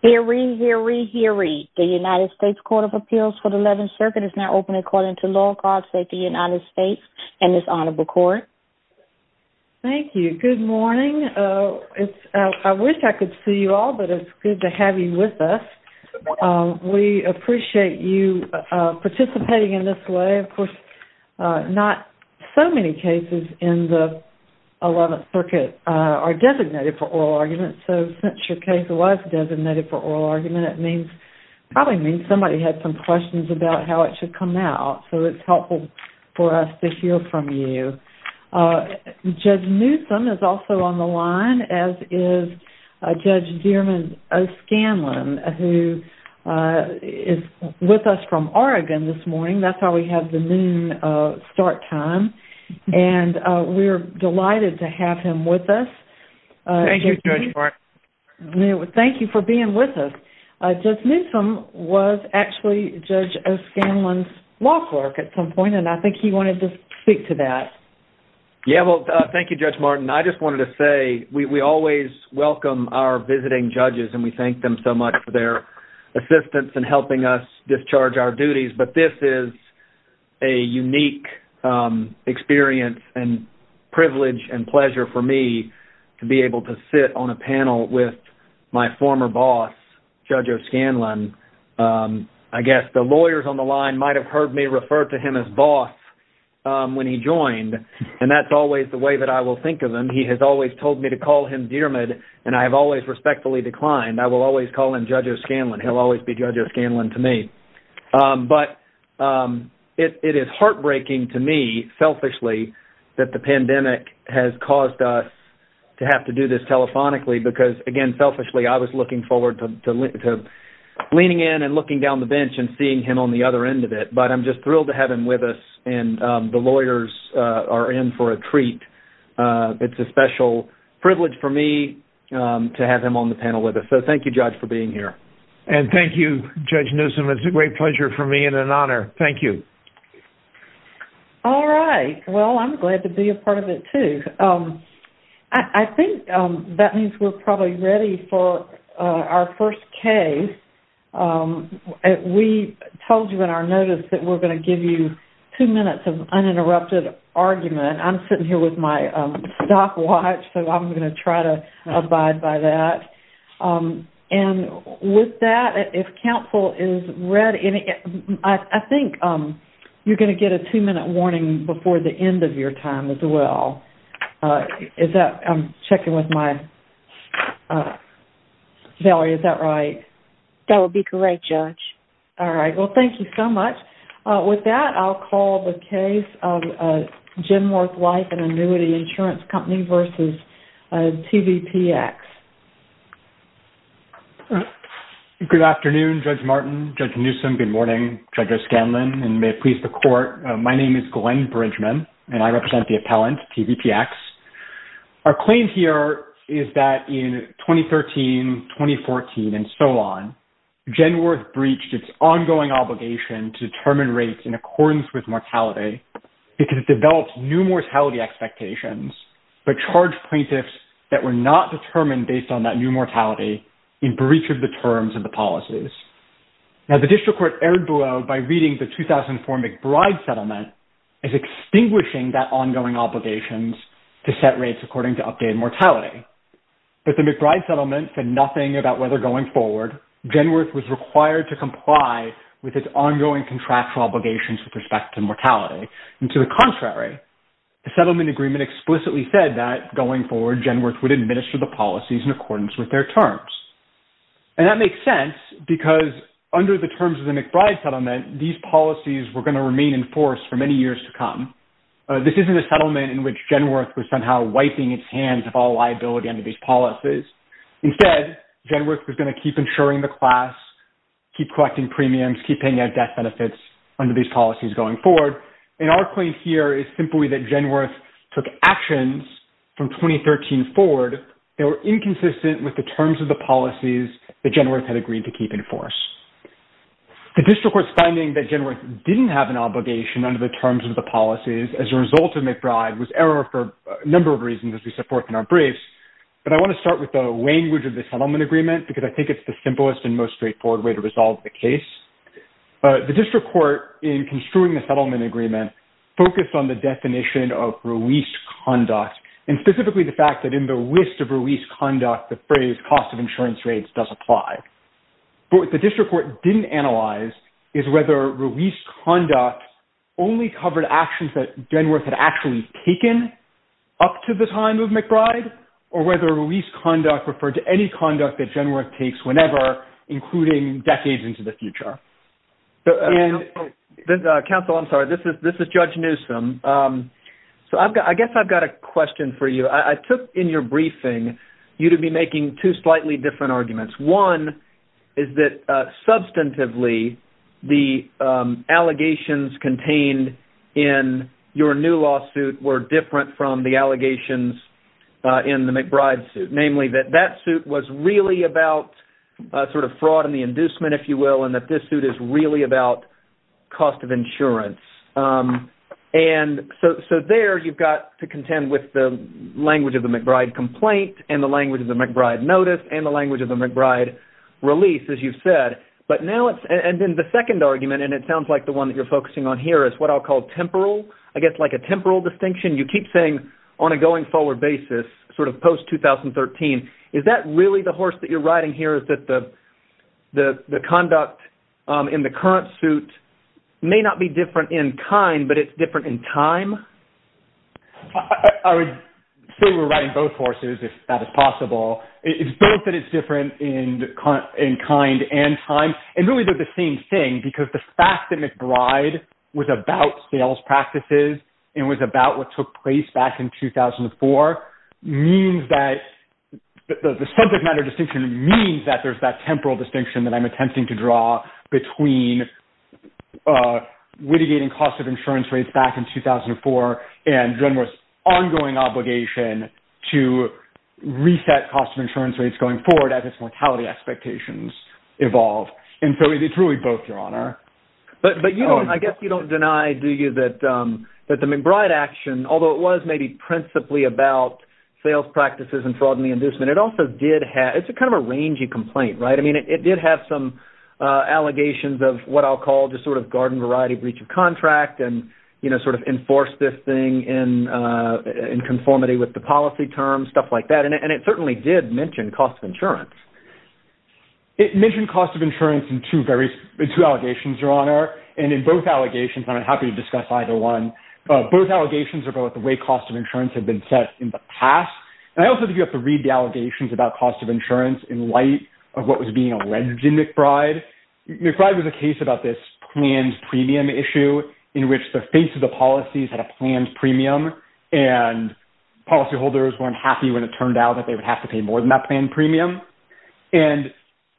Hear, read, hear, read, hear, read. The United States Court of Appeals for the 11th Circuit is now open according to law and code of safety of the United States and this honorable court. Thank you. Good morning. I wish I could see you all, but it's good to have you with us. We appreciate you participating in this way. Of course, not so many cases in the 11th Circuit are designated for oral arguments. So since your case was designated for oral argument, it probably means somebody had some questions about how it should come out. So it's helpful for us to hear from you. Judge Newsom is also on the line, as is Judge Dierman O'Scanlan, who is with us from Oregon this morning. That's why we have the noon start time. We're delighted to have him with us. Thank you, Judge Martin. Thank you for being with us. Judge Newsom was actually Judge O'Scanlan's law clerk at some point, and I think he wanted to speak to that. Yeah, well, thank you, Judge Martin. I just wanted to say we always welcome our visiting judges, and we thank them so much for their assistance in helping us discharge our duties. But this is a unique experience and privilege and pleasure for me to be able to sit on a panel with my former boss, Judge O'Scanlan. I guess the lawyers on the line might have heard me refer to him as boss when he joined, and that's always the way that I will think of him. He has always told me to call him Dierman, and I have always respectfully declined. I will always call him Judge O'Scanlan. He'll always be Judge O'Scanlan to me. But it is heartbreaking to me, selfishly, that the pandemic has caused us to have to do this telephonically because, again, selfishly, I was looking forward to leaning in and looking down the bench and seeing him on the other end of it. But I'm just thrilled to have him with us, and the lawyers are in for a treat. It's a special privilege for me to have him on the panel with us. So thank you, Judge, for being here. And thank you, Judge Newsom. It's a great pleasure for me and an honor. Thank you. All right. Well, I'm glad to be a part of it, too. I think that means we're probably ready for our first case. We told you in our notice that we're going to give you two minutes of uninterrupted argument. I'm sitting here with my stopwatch, so I'm going to try to abide by that. And with that, if counsel is ready, I think you're going to get a two-minute warning before the end of your time as well. I'm checking with my... Valerie, is that right? That would be correct, Judge. All right. Well, thank you so much. With that, I'll call the case of Genworth Life and Annuity Insurance Company v. TVPX. Good afternoon, Judge Martin, Judge Newsom. Good morning, Judge O'Scanlan, and may it please the Court. My name is Glenn Bridgman, and I represent the appellant, TVPX. Our claim here is that in 2013, 2014, and so on, Genworth breached its ongoing obligation to determine rates in accordance with mortality because it developed new mortality expectations but charged plaintiffs that were not determined based on that new mortality in breach of the terms of the policies. Now, the District Court erred below by reading the 2004 McBride Settlement as extinguishing that ongoing obligation to set rates according to updated mortality. But the McBride Settlement said nothing about whether, going forward, Genworth was required to comply with its ongoing contractual obligations with respect to mortality. And to the contrary, the settlement agreement explicitly said that, going forward, Genworth would administer the policies in accordance with their terms. And that makes sense because under the terms of the McBride Settlement, these policies were going to remain in force for many years to come. This isn't a settlement in which Genworth was somehow wiping its hands of all liability under these policies. Instead, Genworth was going to keep insuring the class, keep collecting premiums, keep paying out death benefits under these policies going forward. And our claim here is simply that Genworth took actions from 2013 forward that were inconsistent with the terms of the policies that Genworth had agreed to keep in force. The District Court's finding that Genworth didn't have an obligation under the terms of the policies as a result of McBride was error for a number of reasons as we set forth in our briefs. But I want to start with the language of the settlement agreement because I think it's the simplest and most straightforward way to resolve the case. The District Court, in construing the settlement agreement, focused on the definition of release conduct and specifically the fact that in the list of release conduct, the phrase cost of insurance rates does apply. But what the District Court didn't analyze is whether release conduct only covered actions that Genworth had actually taken up to the time of McBride or whether release conduct referred to any conduct that Genworth takes whenever, including decades into the future. Counsel, I'm sorry. This is Judge Newsom. So I guess I've got a question for you. I took in your briefing you to be making two slightly different arguments. One is that substantively, the allegations contained in your new lawsuit were different from the allegations in the McBride suit. Namely, that that suit was really about fraud and the inducement, if you will, and that this suit is really about cost of insurance. And so there you've got to contend with the language of the McBride complaint and the language of the McBride notice and the language of the McBride release, as you've said. But now it's – and then the second argument, and it sounds like the one that you're focusing on here, is what I'll call temporal. I guess like a temporal distinction. You keep saying on a going forward basis, sort of post-2013, is that really the horse that you're riding here is that the conduct in the current suit may not be different in kind, but it's different in time? I would say we're riding both horses, if that is possible. It's both that it's different in kind and time. And really they're the same thing, because the fact that McBride was about sales practices and was about what took place back in 2004 means that – the subject matter distinction means that there's that temporal distinction that I'm attempting to draw between litigating cost of insurance rates back in 2004 and Drenmore's ongoing obligation to reset cost of insurance rates going forward as its mortality expectations evolve. But you don't – I guess you don't deny, do you, that the McBride action, although it was maybe principally about sales practices and fraud and the inducement, it also did have – it's kind of a rangy complaint, right? I mean, it did have some allegations of what I'll call just sort of garden variety breach of contract and sort of enforce this thing in conformity with the policy terms, stuff like that. And it certainly did mention cost of insurance. It mentioned cost of insurance in two various – in two allegations, Your Honor. And in both allegations – and I'm happy to discuss either one – both allegations are about the way cost of insurance had been set in the past. And I also think you have to read the allegations about cost of insurance in light of what was being alleged in McBride. McBride was a case about this planned premium issue in which the face of the policies had a planned premium and policyholders weren't happy when it turned out that they would have to pay more than that planned premium. And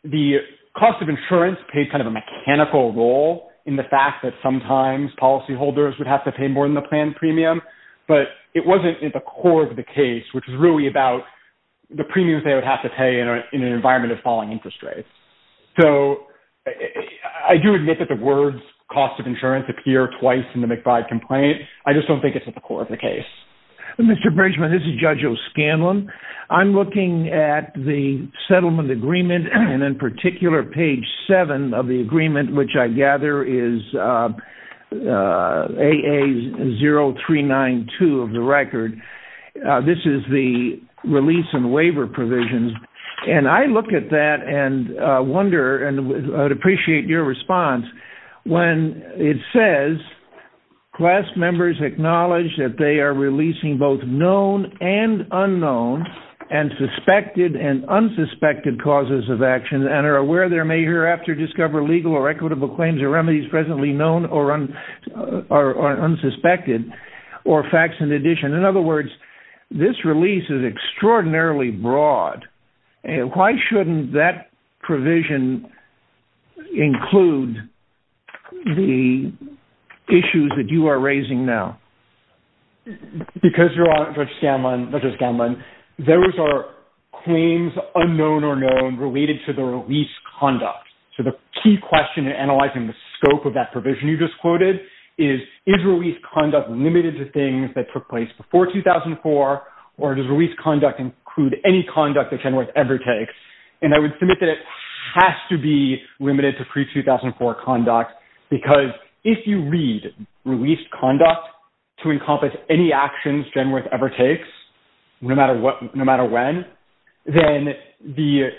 the cost of insurance played kind of a mechanical role in the fact that sometimes policyholders would have to pay more than the planned premium. But it wasn't at the core of the case, which is really about the premiums they would have to pay in an environment of falling interest rates. So I do admit that the words cost of insurance appear twice in the McBride complaint. I just don't think it's at the core of the case. Mr. Bridgman, this is Judge O'Scanlan. I'm looking at the settlement agreement, and in particular page 7 of the agreement, which I gather is AA0392 of the record. This is the release and waiver provisions. And I look at that and wonder – and I'd appreciate your response – when it says class members acknowledge that they are releasing both known and unknown and suspected and unsuspected causes of action and are aware there may hereafter discover legal or equitable claims or remedies presently known or unsuspected or facts in addition. In other words, this release is extraordinarily broad. Why shouldn't that provision include the issues that you are raising now? Because, Your Honor, Judge O'Scanlan, there are claims unknown or known related to the release conduct. So the key question in analyzing the scope of that provision you just quoted is, is release conduct limited to things that took place before 2004 or does release conduct include any conduct that Genworth ever takes? And I would submit that it has to be limited to pre-2004 conduct because if you read release conduct to encompass any actions Genworth ever takes, no matter when, then the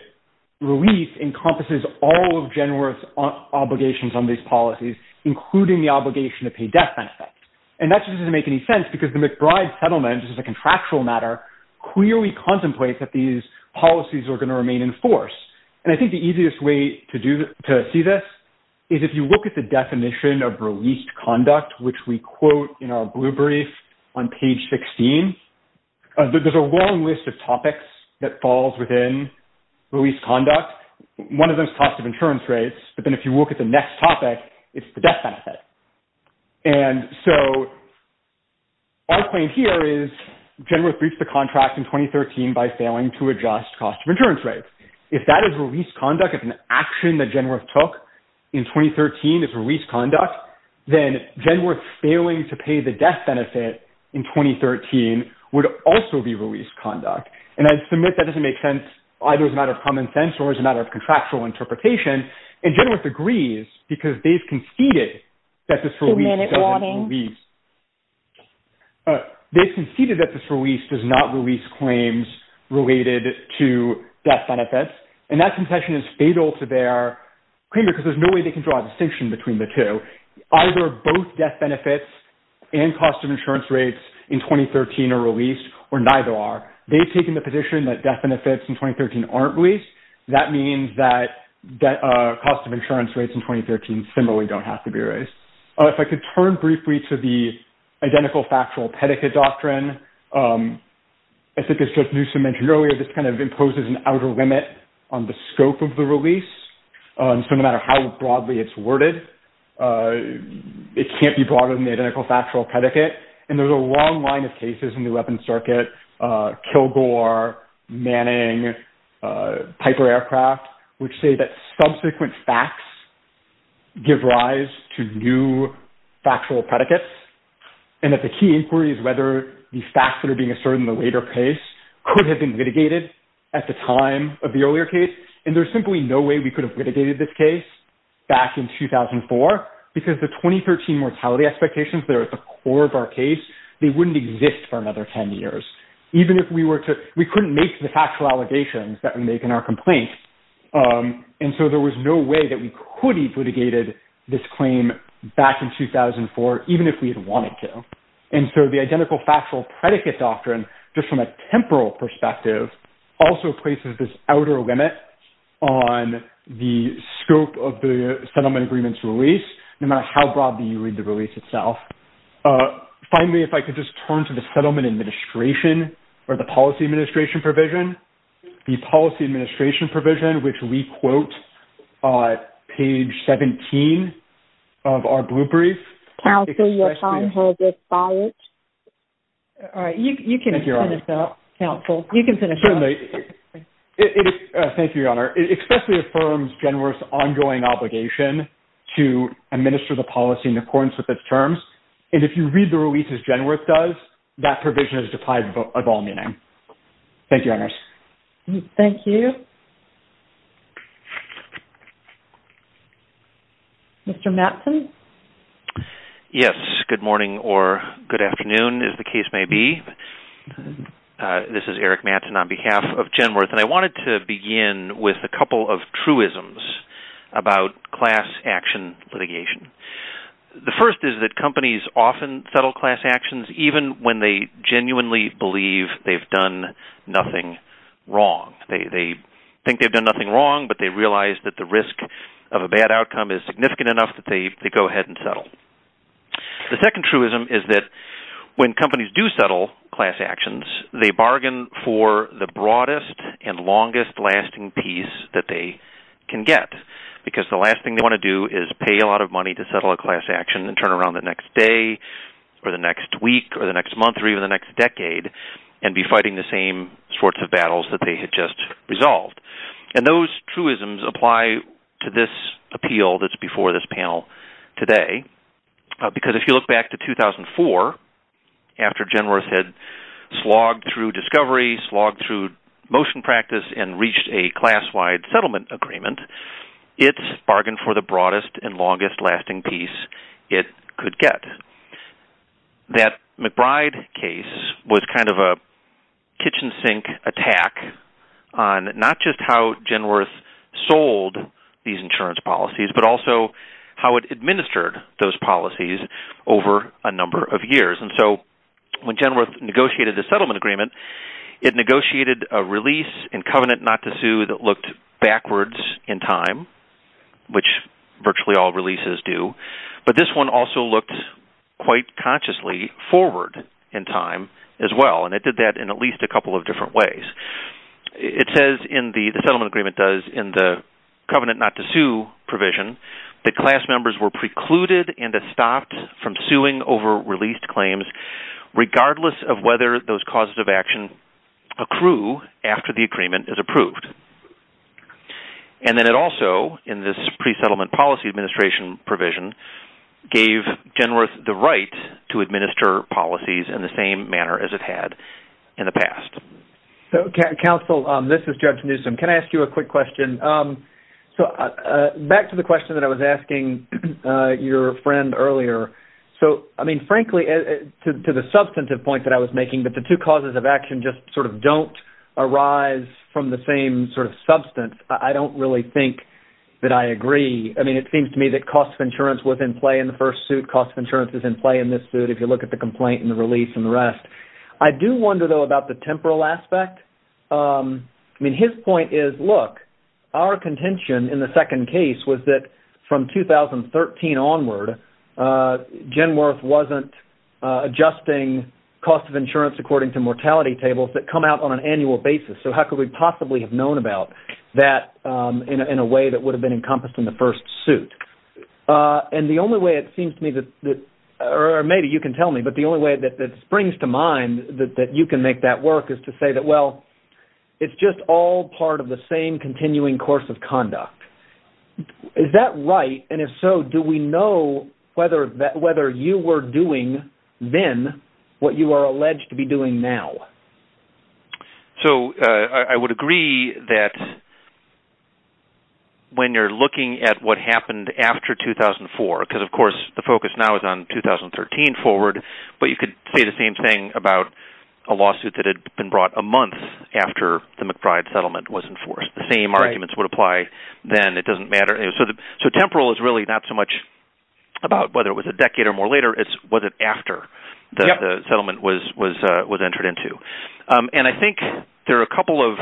release encompasses all of Genworth's obligations on these policies, including the obligation to pay death benefits. And that just doesn't make any sense because the McBride settlement, which is a contractual matter, clearly contemplates that these policies are going to remain in force. And I think the easiest way to see this is if you look at the definition of released conduct, which we quote in our blue brief on page 16, there's a long list of topics that falls within release conduct. One of them is cost of insurance rates, but then if you look at the next topic, it's the death benefit. And so our claim here is Genworth breached the contract in 2013 by failing to adjust cost of insurance rates. If that is release conduct, if an action that Genworth took in 2013 is release conduct, then Genworth failing to pay the death benefit in 2013 would also be release conduct. And I'd submit that doesn't make sense either as a matter of common sense or as a matter of contractual interpretation. And Genworth agrees because they've conceded that this release doesn't release. They've conceded that this release does not release claims related to death benefits. And that concession is fatal to their claim because there's no way they can draw a distinction between the two. Either both death benefits and cost of insurance rates in 2013 are released or neither are. They've taken the position that death benefits in 2013 aren't released. That means that cost of insurance rates in 2013 similarly don't have to be released. If I could turn briefly to the identical factual pedicate doctrine, I think as Judge Newsom mentioned earlier, this kind of imposes an outer limit on the scope of the release. So no matter how broadly it's worded, it can't be broader than the identical factual pedicate. And there's a long line of cases in the weapons circuit, Kilgore, Manning, Piper Aircraft, which say that subsequent facts give rise to new factual predicates. And that the key inquiry is whether the facts that are being asserted in the later case could have been litigated at the time of the earlier case. And there's simply no way we could have litigated this case back in 2004 because the 2013 mortality expectations that are at the core of our case, they wouldn't exist for another 10 years. Even if we were to, we couldn't make the factual allegations that we make in our complaint. And so there was no way that we could have litigated this claim back in 2004, even if we had wanted to. And so the identical factual predicate doctrine, just from a temporal perspective, also places this outer limit on the scope of the settlement agreements release, no matter how broadly you read the release itself. Finally, if I could just turn to the settlement administration or the policy administration provision. The policy administration provision, which we quote on page 17 of our blue brief. Counsel, your time has expired. All right. You can finish up, counsel. You can finish up. Thank you, Your Honor. It especially affirms Genworth's ongoing obligation to administer the policy in accordance with its terms. And if you read the release as Genworth does, that provision is defined of all meaning. Thank you, Your Honor. Thank you. Mr. Mattson? Yes. Good morning or good afternoon, as the case may be. This is Eric Mattson on behalf of Genworth. And I wanted to begin with a couple of truisms about class action litigation. The first is that companies often settle class actions even when they genuinely believe they've done nothing wrong. They think they've done nothing wrong, but they realize that the risk of a bad outcome is significant enough that they go ahead and settle. The second truism is that when companies do settle class actions, they bargain for the broadest and longest lasting piece that they can get. Because the last thing they want to do is pay a lot of money to settle a class action and turn around the next day or the next week or the next month or even the next decade and be fighting the same sorts of battles that they had just resolved. And those truisms apply to this appeal that's before this panel today. Because if you look back to 2004, after Genworth had slogged through discovery, slogged through motion practice and reached a class-wide settlement agreement, it's bargained for the broadest and longest lasting piece it could get. That McBride case was kind of a kitchen sink attack on not just how Genworth sold these insurance policies, but also how it administered those policies over a number of years. And so when Genworth negotiated the settlement agreement, it negotiated a release in covenant not to sue that looked backwards in time, which virtually all releases do. But this one also looked quite consciously forward in time as well, and it did that in at least a couple of different ways. It says in the... the settlement agreement does in the covenant not to sue provision that class members were precluded and estopped from suing over released claims regardless of whether those causes of action accrue after the agreement is approved. And then it also, in this pre-settlement policy administration provision, gave Genworth the right to administer policies in the same manner as it had in the past. So, Counsel, this is Judge Newsom. Can I ask you a quick question? So back to the question that I was asking your friend earlier. So, I mean, frankly, to the substantive point that I was making, that the two causes of action just sort of don't arise from the same sort of substance, I don't really think that I agree. I mean, it seems to me that cost of insurance was in play in the first suit, cost of insurance is in play in this suit if you look at the complaint and the release and the rest. I do wonder, though, about the temporal aspect. I mean, his point is, look, our contention in the second case was that from 2013 onward, Genworth wasn't adjusting cost of insurance according to mortality tables that come out on an annual basis. So how could we possibly have known about that in a way that would have been encompassed in the first suit? And the only way it seems to me that... or maybe you can tell me, but the only way that springs to mind that you can make that work is to say that, well, it's just all part of the same continuing course of conduct. Is that right? And if so, do we know whether you were doing then what you are alleged to be doing now? So I would agree that... when you're looking at what happened after 2004, because, of course, the focus now is on 2013 forward, but you could say the same thing about a lawsuit that had been brought a month after the McBride settlement was enforced. The same arguments would apply then. It doesn't matter. So temporal is really not so much about whether it was a decade or more later. It's was it after the settlement was entered into. And I think there are a couple of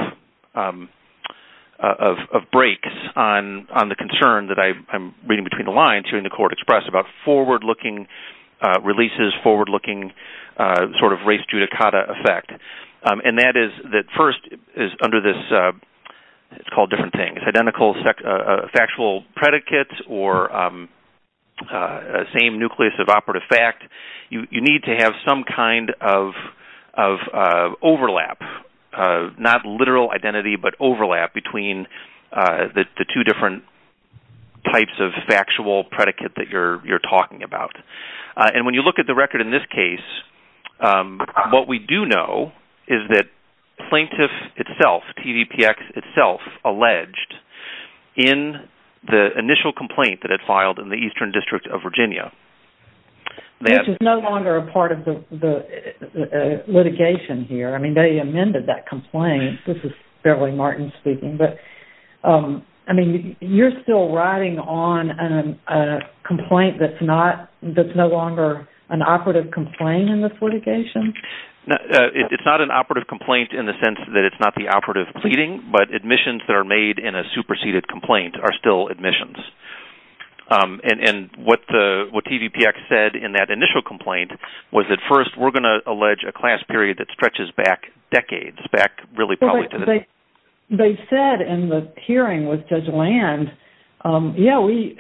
breaks on the concern that I'm reading between the lines hearing the court express about forward-looking releases, forward-looking sort of race judicata effect. And that is that first is under this... It's called different things. Identical factual predicates or same nucleus of operative fact. You need to have some kind of overlap, not literal identity, but overlap between the two different types of factual predicate that you're talking about. And when you look at the record in this case, what we do know is that plaintiff itself, TVPX itself, alleged in the initial complaint that it filed in the Eastern District of Virginia. Which is no longer a part of the litigation here. I mean, they amended that complaint. This is Beverly Martin speaking. You're still riding on a complaint that's no longer an operative complaint in this sense that it's not the operative pleading, but admissions that are made in a superseded complaint are still admissions. And what TVPX said in that initial complaint was that first, we're going to allege a class period that stretches back decades. Back really probably to the... They said in the hearing with Judge Land, yeah, we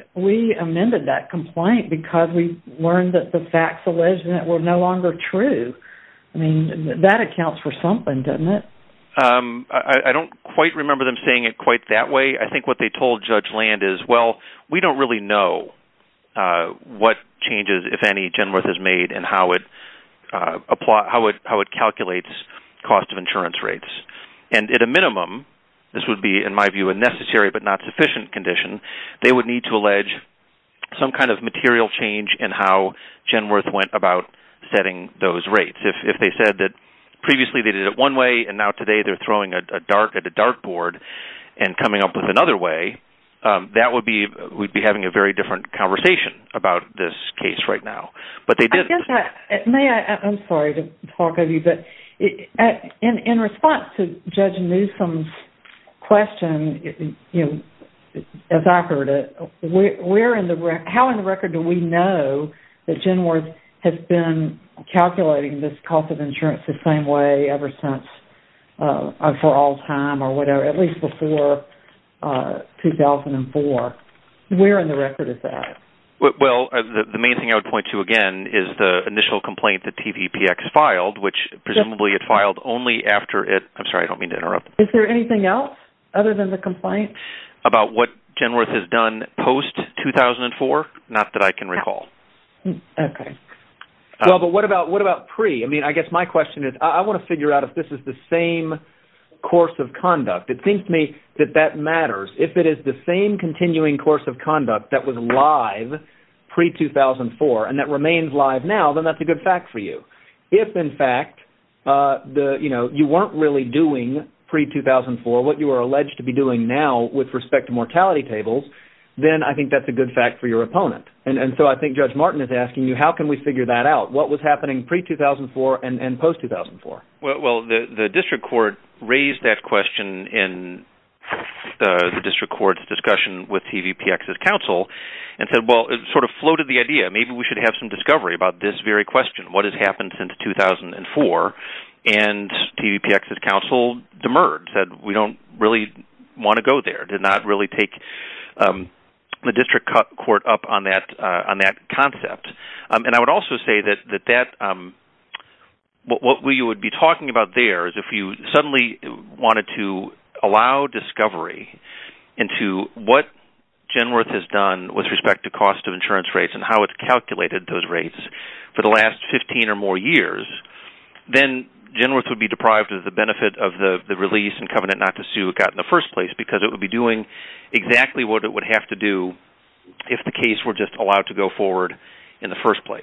amended that complaint because we learned that the facts alleged in it were no longer true. I mean, that accounts for something, doesn't it? I don't quite remember them saying it quite that way. I think what they told Judge Land is, well, we don't really know what changes if any, Genworth has made and how it calculates cost of insurance rates. And at a minimum, this would be in my view a necessary but not sufficient condition, they would need to allege some kind of material change in how Genworth went about setting those rates. If they said that previously they did it one way and now today they're throwing a dartboard and coming up with another way, we'd be having a very different conversation about this case right now. I'm sorry to talk of you, but in response to Judge Newsom's question, as I heard it, how in the record do we know that Genworth has been calculating this cost of insurance the same way ever since or for all time or whatever, at least before 2004? Where in the record is that? Well, the main thing I would point to again is the initial complaint that TVPX filed, which presumably it filed only after it... I'm sorry, I don't mean to interrupt. Is there anything else other than the complaint? About what Genworth has done post-2004? Not that I can recall. Okay. Well, but what about pre? I mean, I guess my question is I want to figure out if this is the same course of conduct. It seems to me that that matters. If it is the same continuing course of conduct that was live pre-2004 and that remains live now, then that's a good fact for you. If, in fact, you weren't really doing pre-2004 what you are alleged to be doing now with respect to mortality tables, then I think that's a good fact for your opponent. And so I think Judge Martin is asking you, how can we figure that out? What was happening pre-2004 and post-2004? Well, the district court raised that question in the district court's discussion with TVPX's counsel and said, well, it sort of floated the idea maybe we should have some discovery about this very question. What has happened since 2004? And TVPX's counsel demurred, said we don't really want to go there, did not really take the district court up on that concept. And I would also say that what we would be talking about there is if you suddenly wanted to allow discovery into what Genworth has done with respect to cost of insurance rates and how it's calculated those rates for the last 15 or more years, then Genworth would be deprived of the benefit of the release and would be doing exactly what it would have to do if the case were just allowed to go forward in the first place.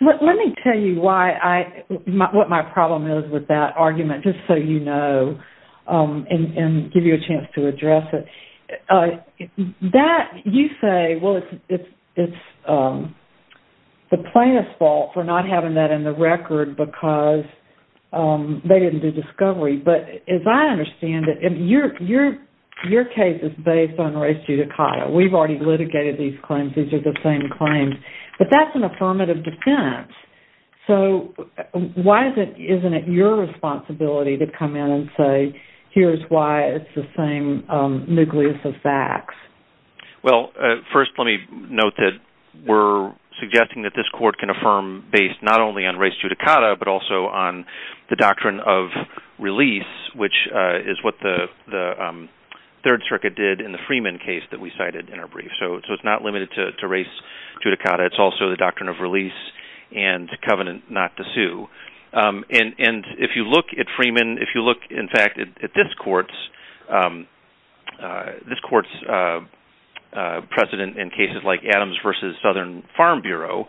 Let me tell you what my problem is with that argument, just so you know and give you a chance to address it. That, you say, well, it's the plaintiff's fault for not having that in the record because they didn't do discovery, but as I understand it, your case is based on res judicata. We've already litigated these claims. These are the same claims. But that's an affirmative defense. So why isn't it your responsibility to come in and say here's why it's the same nucleus of facts? Well, first let me note that we're suggesting that this court can affirm based not only on res judicata but also on the doctrine of release, which is what the Third Circuit did in the Freeman case that we cited in our brief. So it's not limited to res judicata. It's also the doctrine of release and covenant not to sue. And if you look at Freeman, if you look, in fact, at this court's precedent in cases like Adams v. Southern Farm Bureau,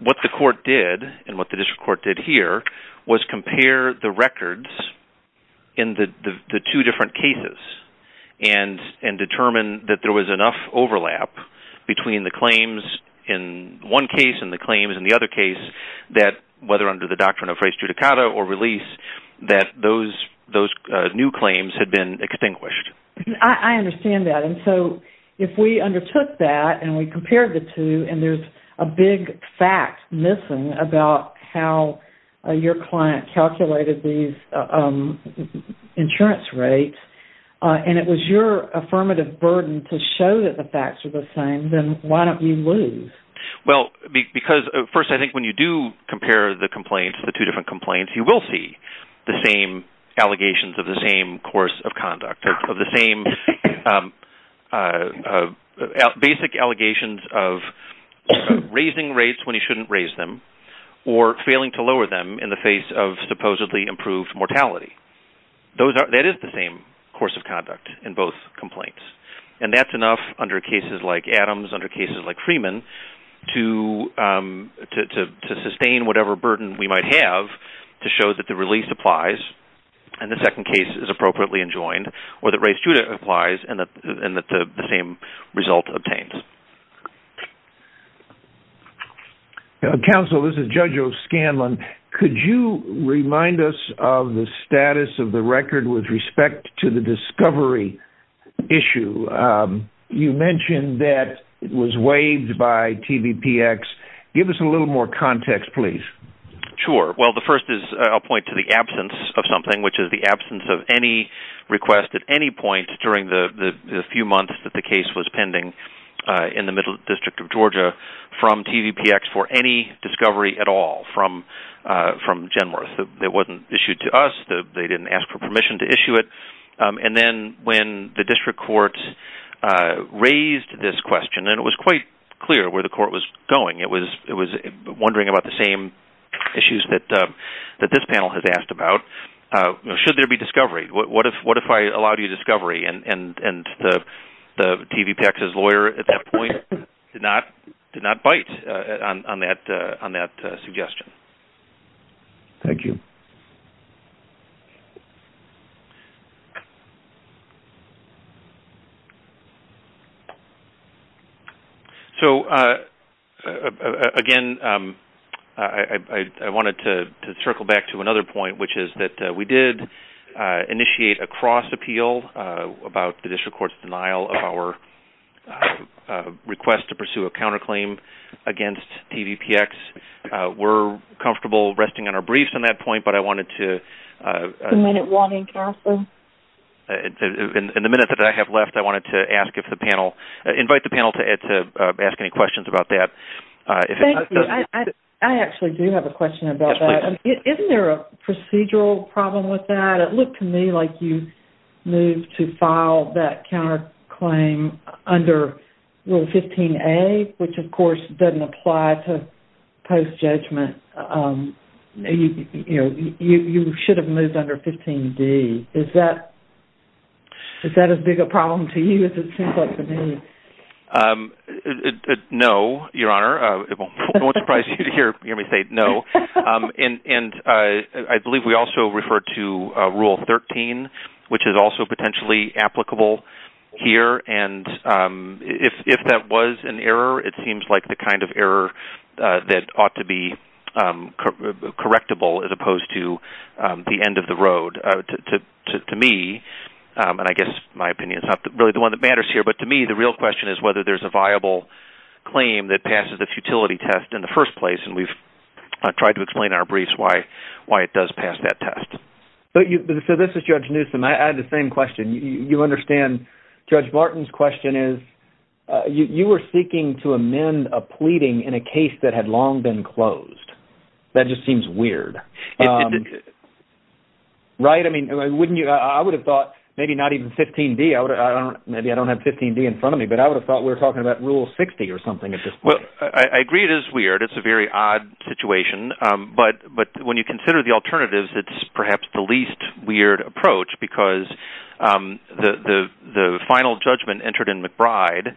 what the court did and what the district court did here was compare the records in the two different cases and determine that there was enough overlap between the claims in one case and the claims in the other case that whether under the doctrine of res judicata or release that those new claims had been extinguished. I understand that. And so if we undertook that and we compared the two and there's a big fact missing about how your client calculated these insurance rates and it was your affirmative burden to show that the facts are the same, then why don't you lose? Well, first, I think when you do compare the complaints, the two different complaints, you will see the same allegations of the same course of conduct of the same basic allegations of raising rates when you shouldn't raise them or failing to lower them in the face of supposedly improved mortality. That is the same course of conduct in both complaints and that's enough under cases like Adams, under cases like Freeman to sustain whatever burden we might have to show that the release applies and the second case is appropriately enjoined or that res judicata applies and that the same result obtained. Counsel, this is Judge O'Scanlan. Could you remind us of the status of the record with respect to the discovery issue? You mentioned that it was waived by TVPX. Give us a little more context, please. Sure. Well, the first is I'll point to the absence of something, which is the absence of any request at any point during the few months that the case was pending in the middle district of Georgia from TVPX for any discovery at all from Genworth. It wasn't issued to us. They didn't ask for permission to issue it and then when the district court raised this question and it was quite clear where the court was going. It was wondering about the same issues that this panel has asked about. Should there be discovery? What if I allowed you discovery and the TVPX's lawyer at that point did not bite on that suggestion? Thank you. Again, I wanted to circle back to another point, which is that we did initiate a cross appeal about the district court's denial of our request to pursue a counterclaim against TVPX. We're comfortable resting on our briefs on that point, but I wanted to In the minute that I have left, I wanted to ask if the panel invite the panel to ask any questions about that. I actually do have a question about that. Isn't there a procedural problem with that? It looked to me like you moved to file that counterclaim under Rule 15A, which of course doesn't apply to post-judgment. You should have moved under 15D. Is that a bigger problem to you? No, Your Honor. It won't surprise you to hear me say no. I believe we also referred to Rule 13, which is also potentially applicable here. If that was an error, it seems like the kind of error that ought to be correctable as opposed to the end of the road. I guess my opinion is not really the one that matters here, but to me, the real question is whether there's a viable claim that passes the futility test in the first place, and we've tried to explain in our briefs why it does pass that test. This is Judge Newsom. I had the same question. You understand Judge Martin's question is you were seeking to amend a pleading in a case that had long been closed. That just seems weird. Right? I would have thought maybe not even 15D. Maybe I don't have 15D in front of me, but I would have thought we were talking about Rule 60 or something like that. It's not weird. It's a very odd situation, but when you consider the alternatives, it's perhaps the least weird approach because the final judgment entered in McBride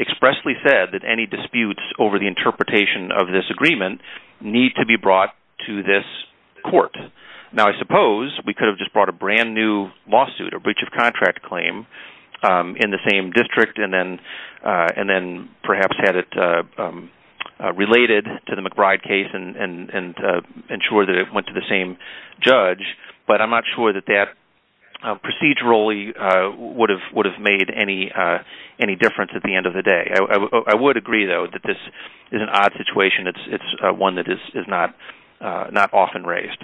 expressly said that any disputes over the interpretation of this agreement need to be brought to this court. I suppose we could have just brought a brand new lawsuit, a breach of contract claim in the same district and then perhaps had it related to the McBride case and ensure that it went to the same judge, but I'm not sure that that procedurally would have made any difference at the end of the day. I would agree, though, that this is an odd situation. It's one that is not often raised.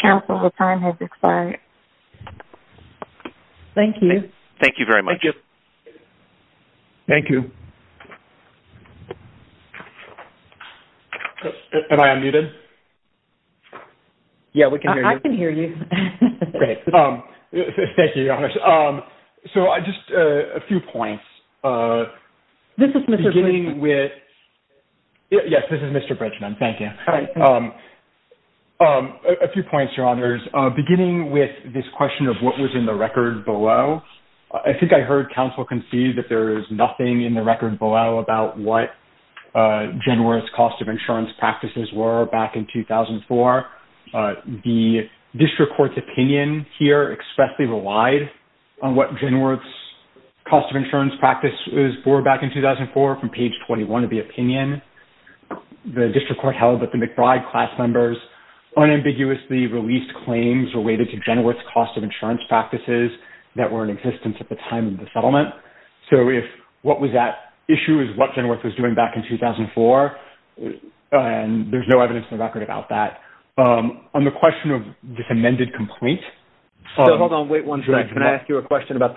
Counsel, the time has expired. Thank you. Thank you very much. Thank you. Am I unmuted? Yeah, we can hear you. I can hear you. Thank you, Your Honor. Just a few points. This is Mr. Yes, this is Mr. Brejnan. Thank you. A few points. I would like to begin with this question of what was in the record below. I think I heard counsel concede that there is nothing in the record below about what Genward's cost of insurance practices were back in 2004. The district court's opinion here expressly relied on what Genward's cost of insurance practice was for back in 2004 from page 21 of the record. that Genward's cost of insurance practices that were in existence at the time of the settlement. What was that issue is what Genward was doing back in 2004. There is no evidence in the record about that. On the question of this amended complaint. Hold on. Can I ask you a question? What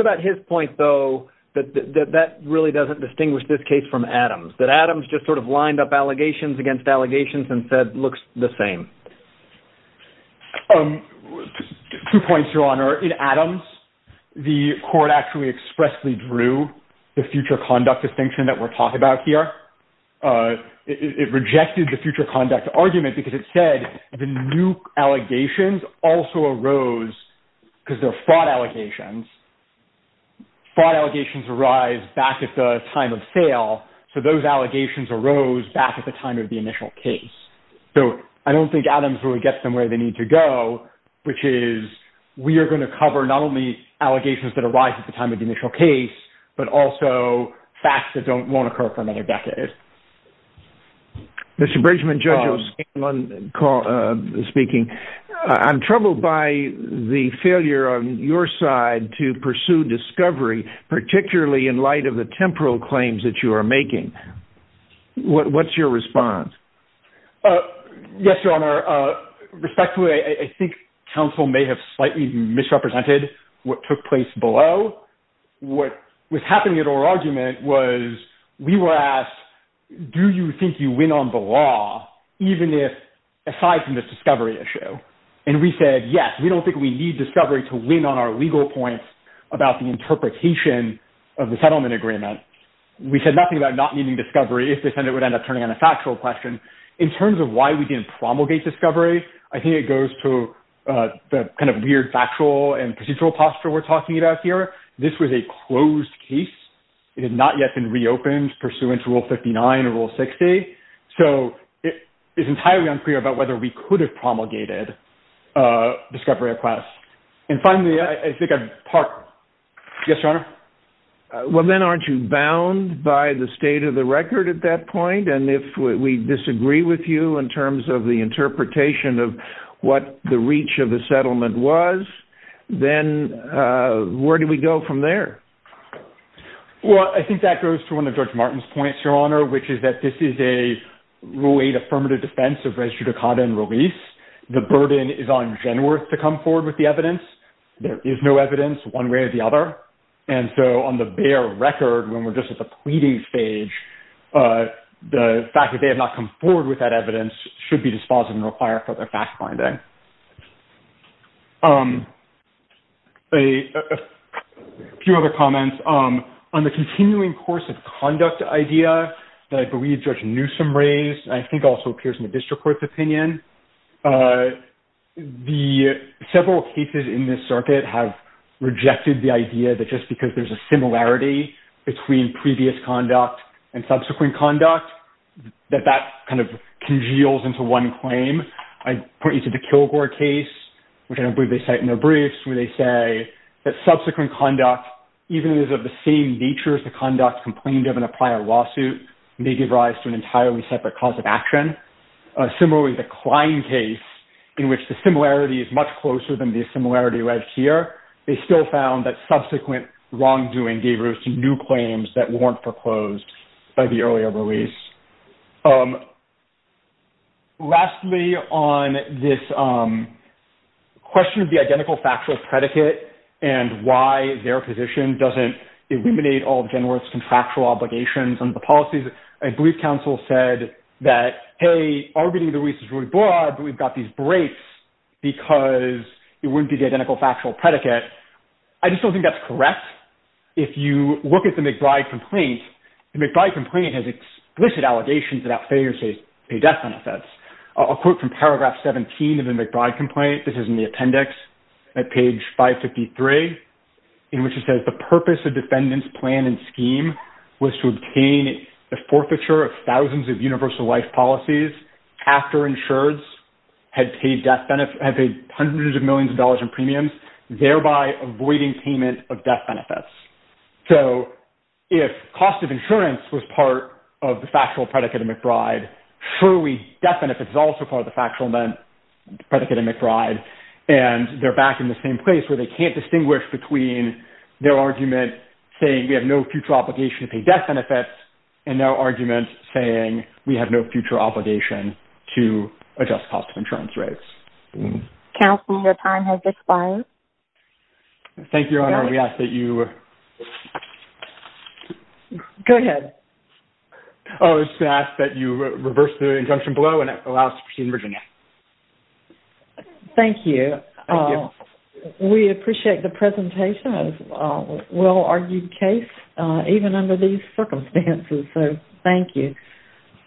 about his point, though, that really doesn't distinguish this case from Adams. Adams just lined up allegations against allegations and said it looks the same. Two points, Your Honor. In Adams, the court expressly drew the future conduct distinction that we are talking about here. It rejected the future conduct argument because it said the new allegations also arose because they are fraud allegations. Fraud allegations arise back at the time of sale, so those allegations arose back at the time of the initial case. I don't think Adams really gets them where they need to go, which is we are going to cover not only allegations that arise at the time of the initial case, but also facts that won't occur for another decade. Mr. Bridgman, Judge O'Scanlan speaking. I'm troubled by the attempt to pursue discovery, particularly in light of the temporal claims that you are making. What's your response? Yes, Your Honor. Respectfully, I think counsel may have slightly misrepresented what took place below. What was happening at our argument was we were asked, do you think you win on the law, even if aside from this discovery issue? And we said, yes, we don't think we need discovery to win on our legal points about the interpretation of the settlement agreement. We said nothing about not needing discovery if the Senate would end up turning on a factual question. In terms of why we didn't promulgate discovery, I think it goes to the kind of weird factual and procedural posture we're talking about here. This was a closed case. It had not yet been reopened pursuant to Rule 59 or Rule 60. So it is entirely unclear about whether we could have promulgated discovery or class. And finally, I think I'd park. Yes, Your Honor. Well, then aren't you bound by the state of the record at that point? And if we disagree with you in terms of the interpretation of what the reach of the settlement was, then where do we go from there? Well, I think that goes to one of George Martin's points, Your Honor, which is that this is a Rule 8 affirmative defense of the burden is on Genworth to come forward with the evidence. There is no evidence one way or the other. And so on the bare record, when we're just at the pleading stage, the fact that they have not come forward with that evidence should be dispositive and require further fact-finding. A few other comments. On the continuing course of conduct idea that I believe Judge Newsom raised, and I think also appears in the district court's opinion, several cases in this circuit have rejected the idea that just because there's a similarity between previous conduct and subsequent conduct that that kind of congeals into one claim. I point you to the Kilgore case, which I believe they cite in their briefs, where they say that subsequent conduct, even if it is of the same nature as the conduct complained of in a prior lawsuit, may give rise to an entirely separate cause of action. Similarly, the Klein case, in which the similarity is much closer than the similarity read here, they still found that subsequent wrongdoing gave rise to new claims that weren't foreclosed by the earlier release. Lastly, on this question of the identical factual predicate and why their position doesn't eliminate all of Genworth's contractual obligations under the policies, I believe counsel said that, hey, our reading of the release is really broad, but we've got these breaks because it wouldn't be the identical factual predicate. I just don't think that's correct. If you look at the McBride complaint, the McBride complaint has explicit allegations that that failure pays death benefits. I'll quote from paragraph 17 of the McBride complaint, this is in the appendix, at page 553, in which it says, the purpose of defendants' plan and scheme was to obtain a forfeiture of thousands of universal life policies after insureds had paid hundreds of millions of dollars in premiums, thereby avoiding payment of death benefits. So, if cost of insurance was part of the factual predicate of McBride, surely death benefits is also part of the factual predicate of McBride and they're back in the same place where they can't distinguish between their argument saying we have no future obligation to pay death benefits and their argument saying we have no future obligation to adjust cost of insurance rates. Counselor, your time has expired. Thank you, Your Honor. We ask that you Go ahead. We ask that you reverse the injunction below and allow us to proceed. Thank you. We appreciate the presentation of a well-argued case even under these circumstances. So, thank you.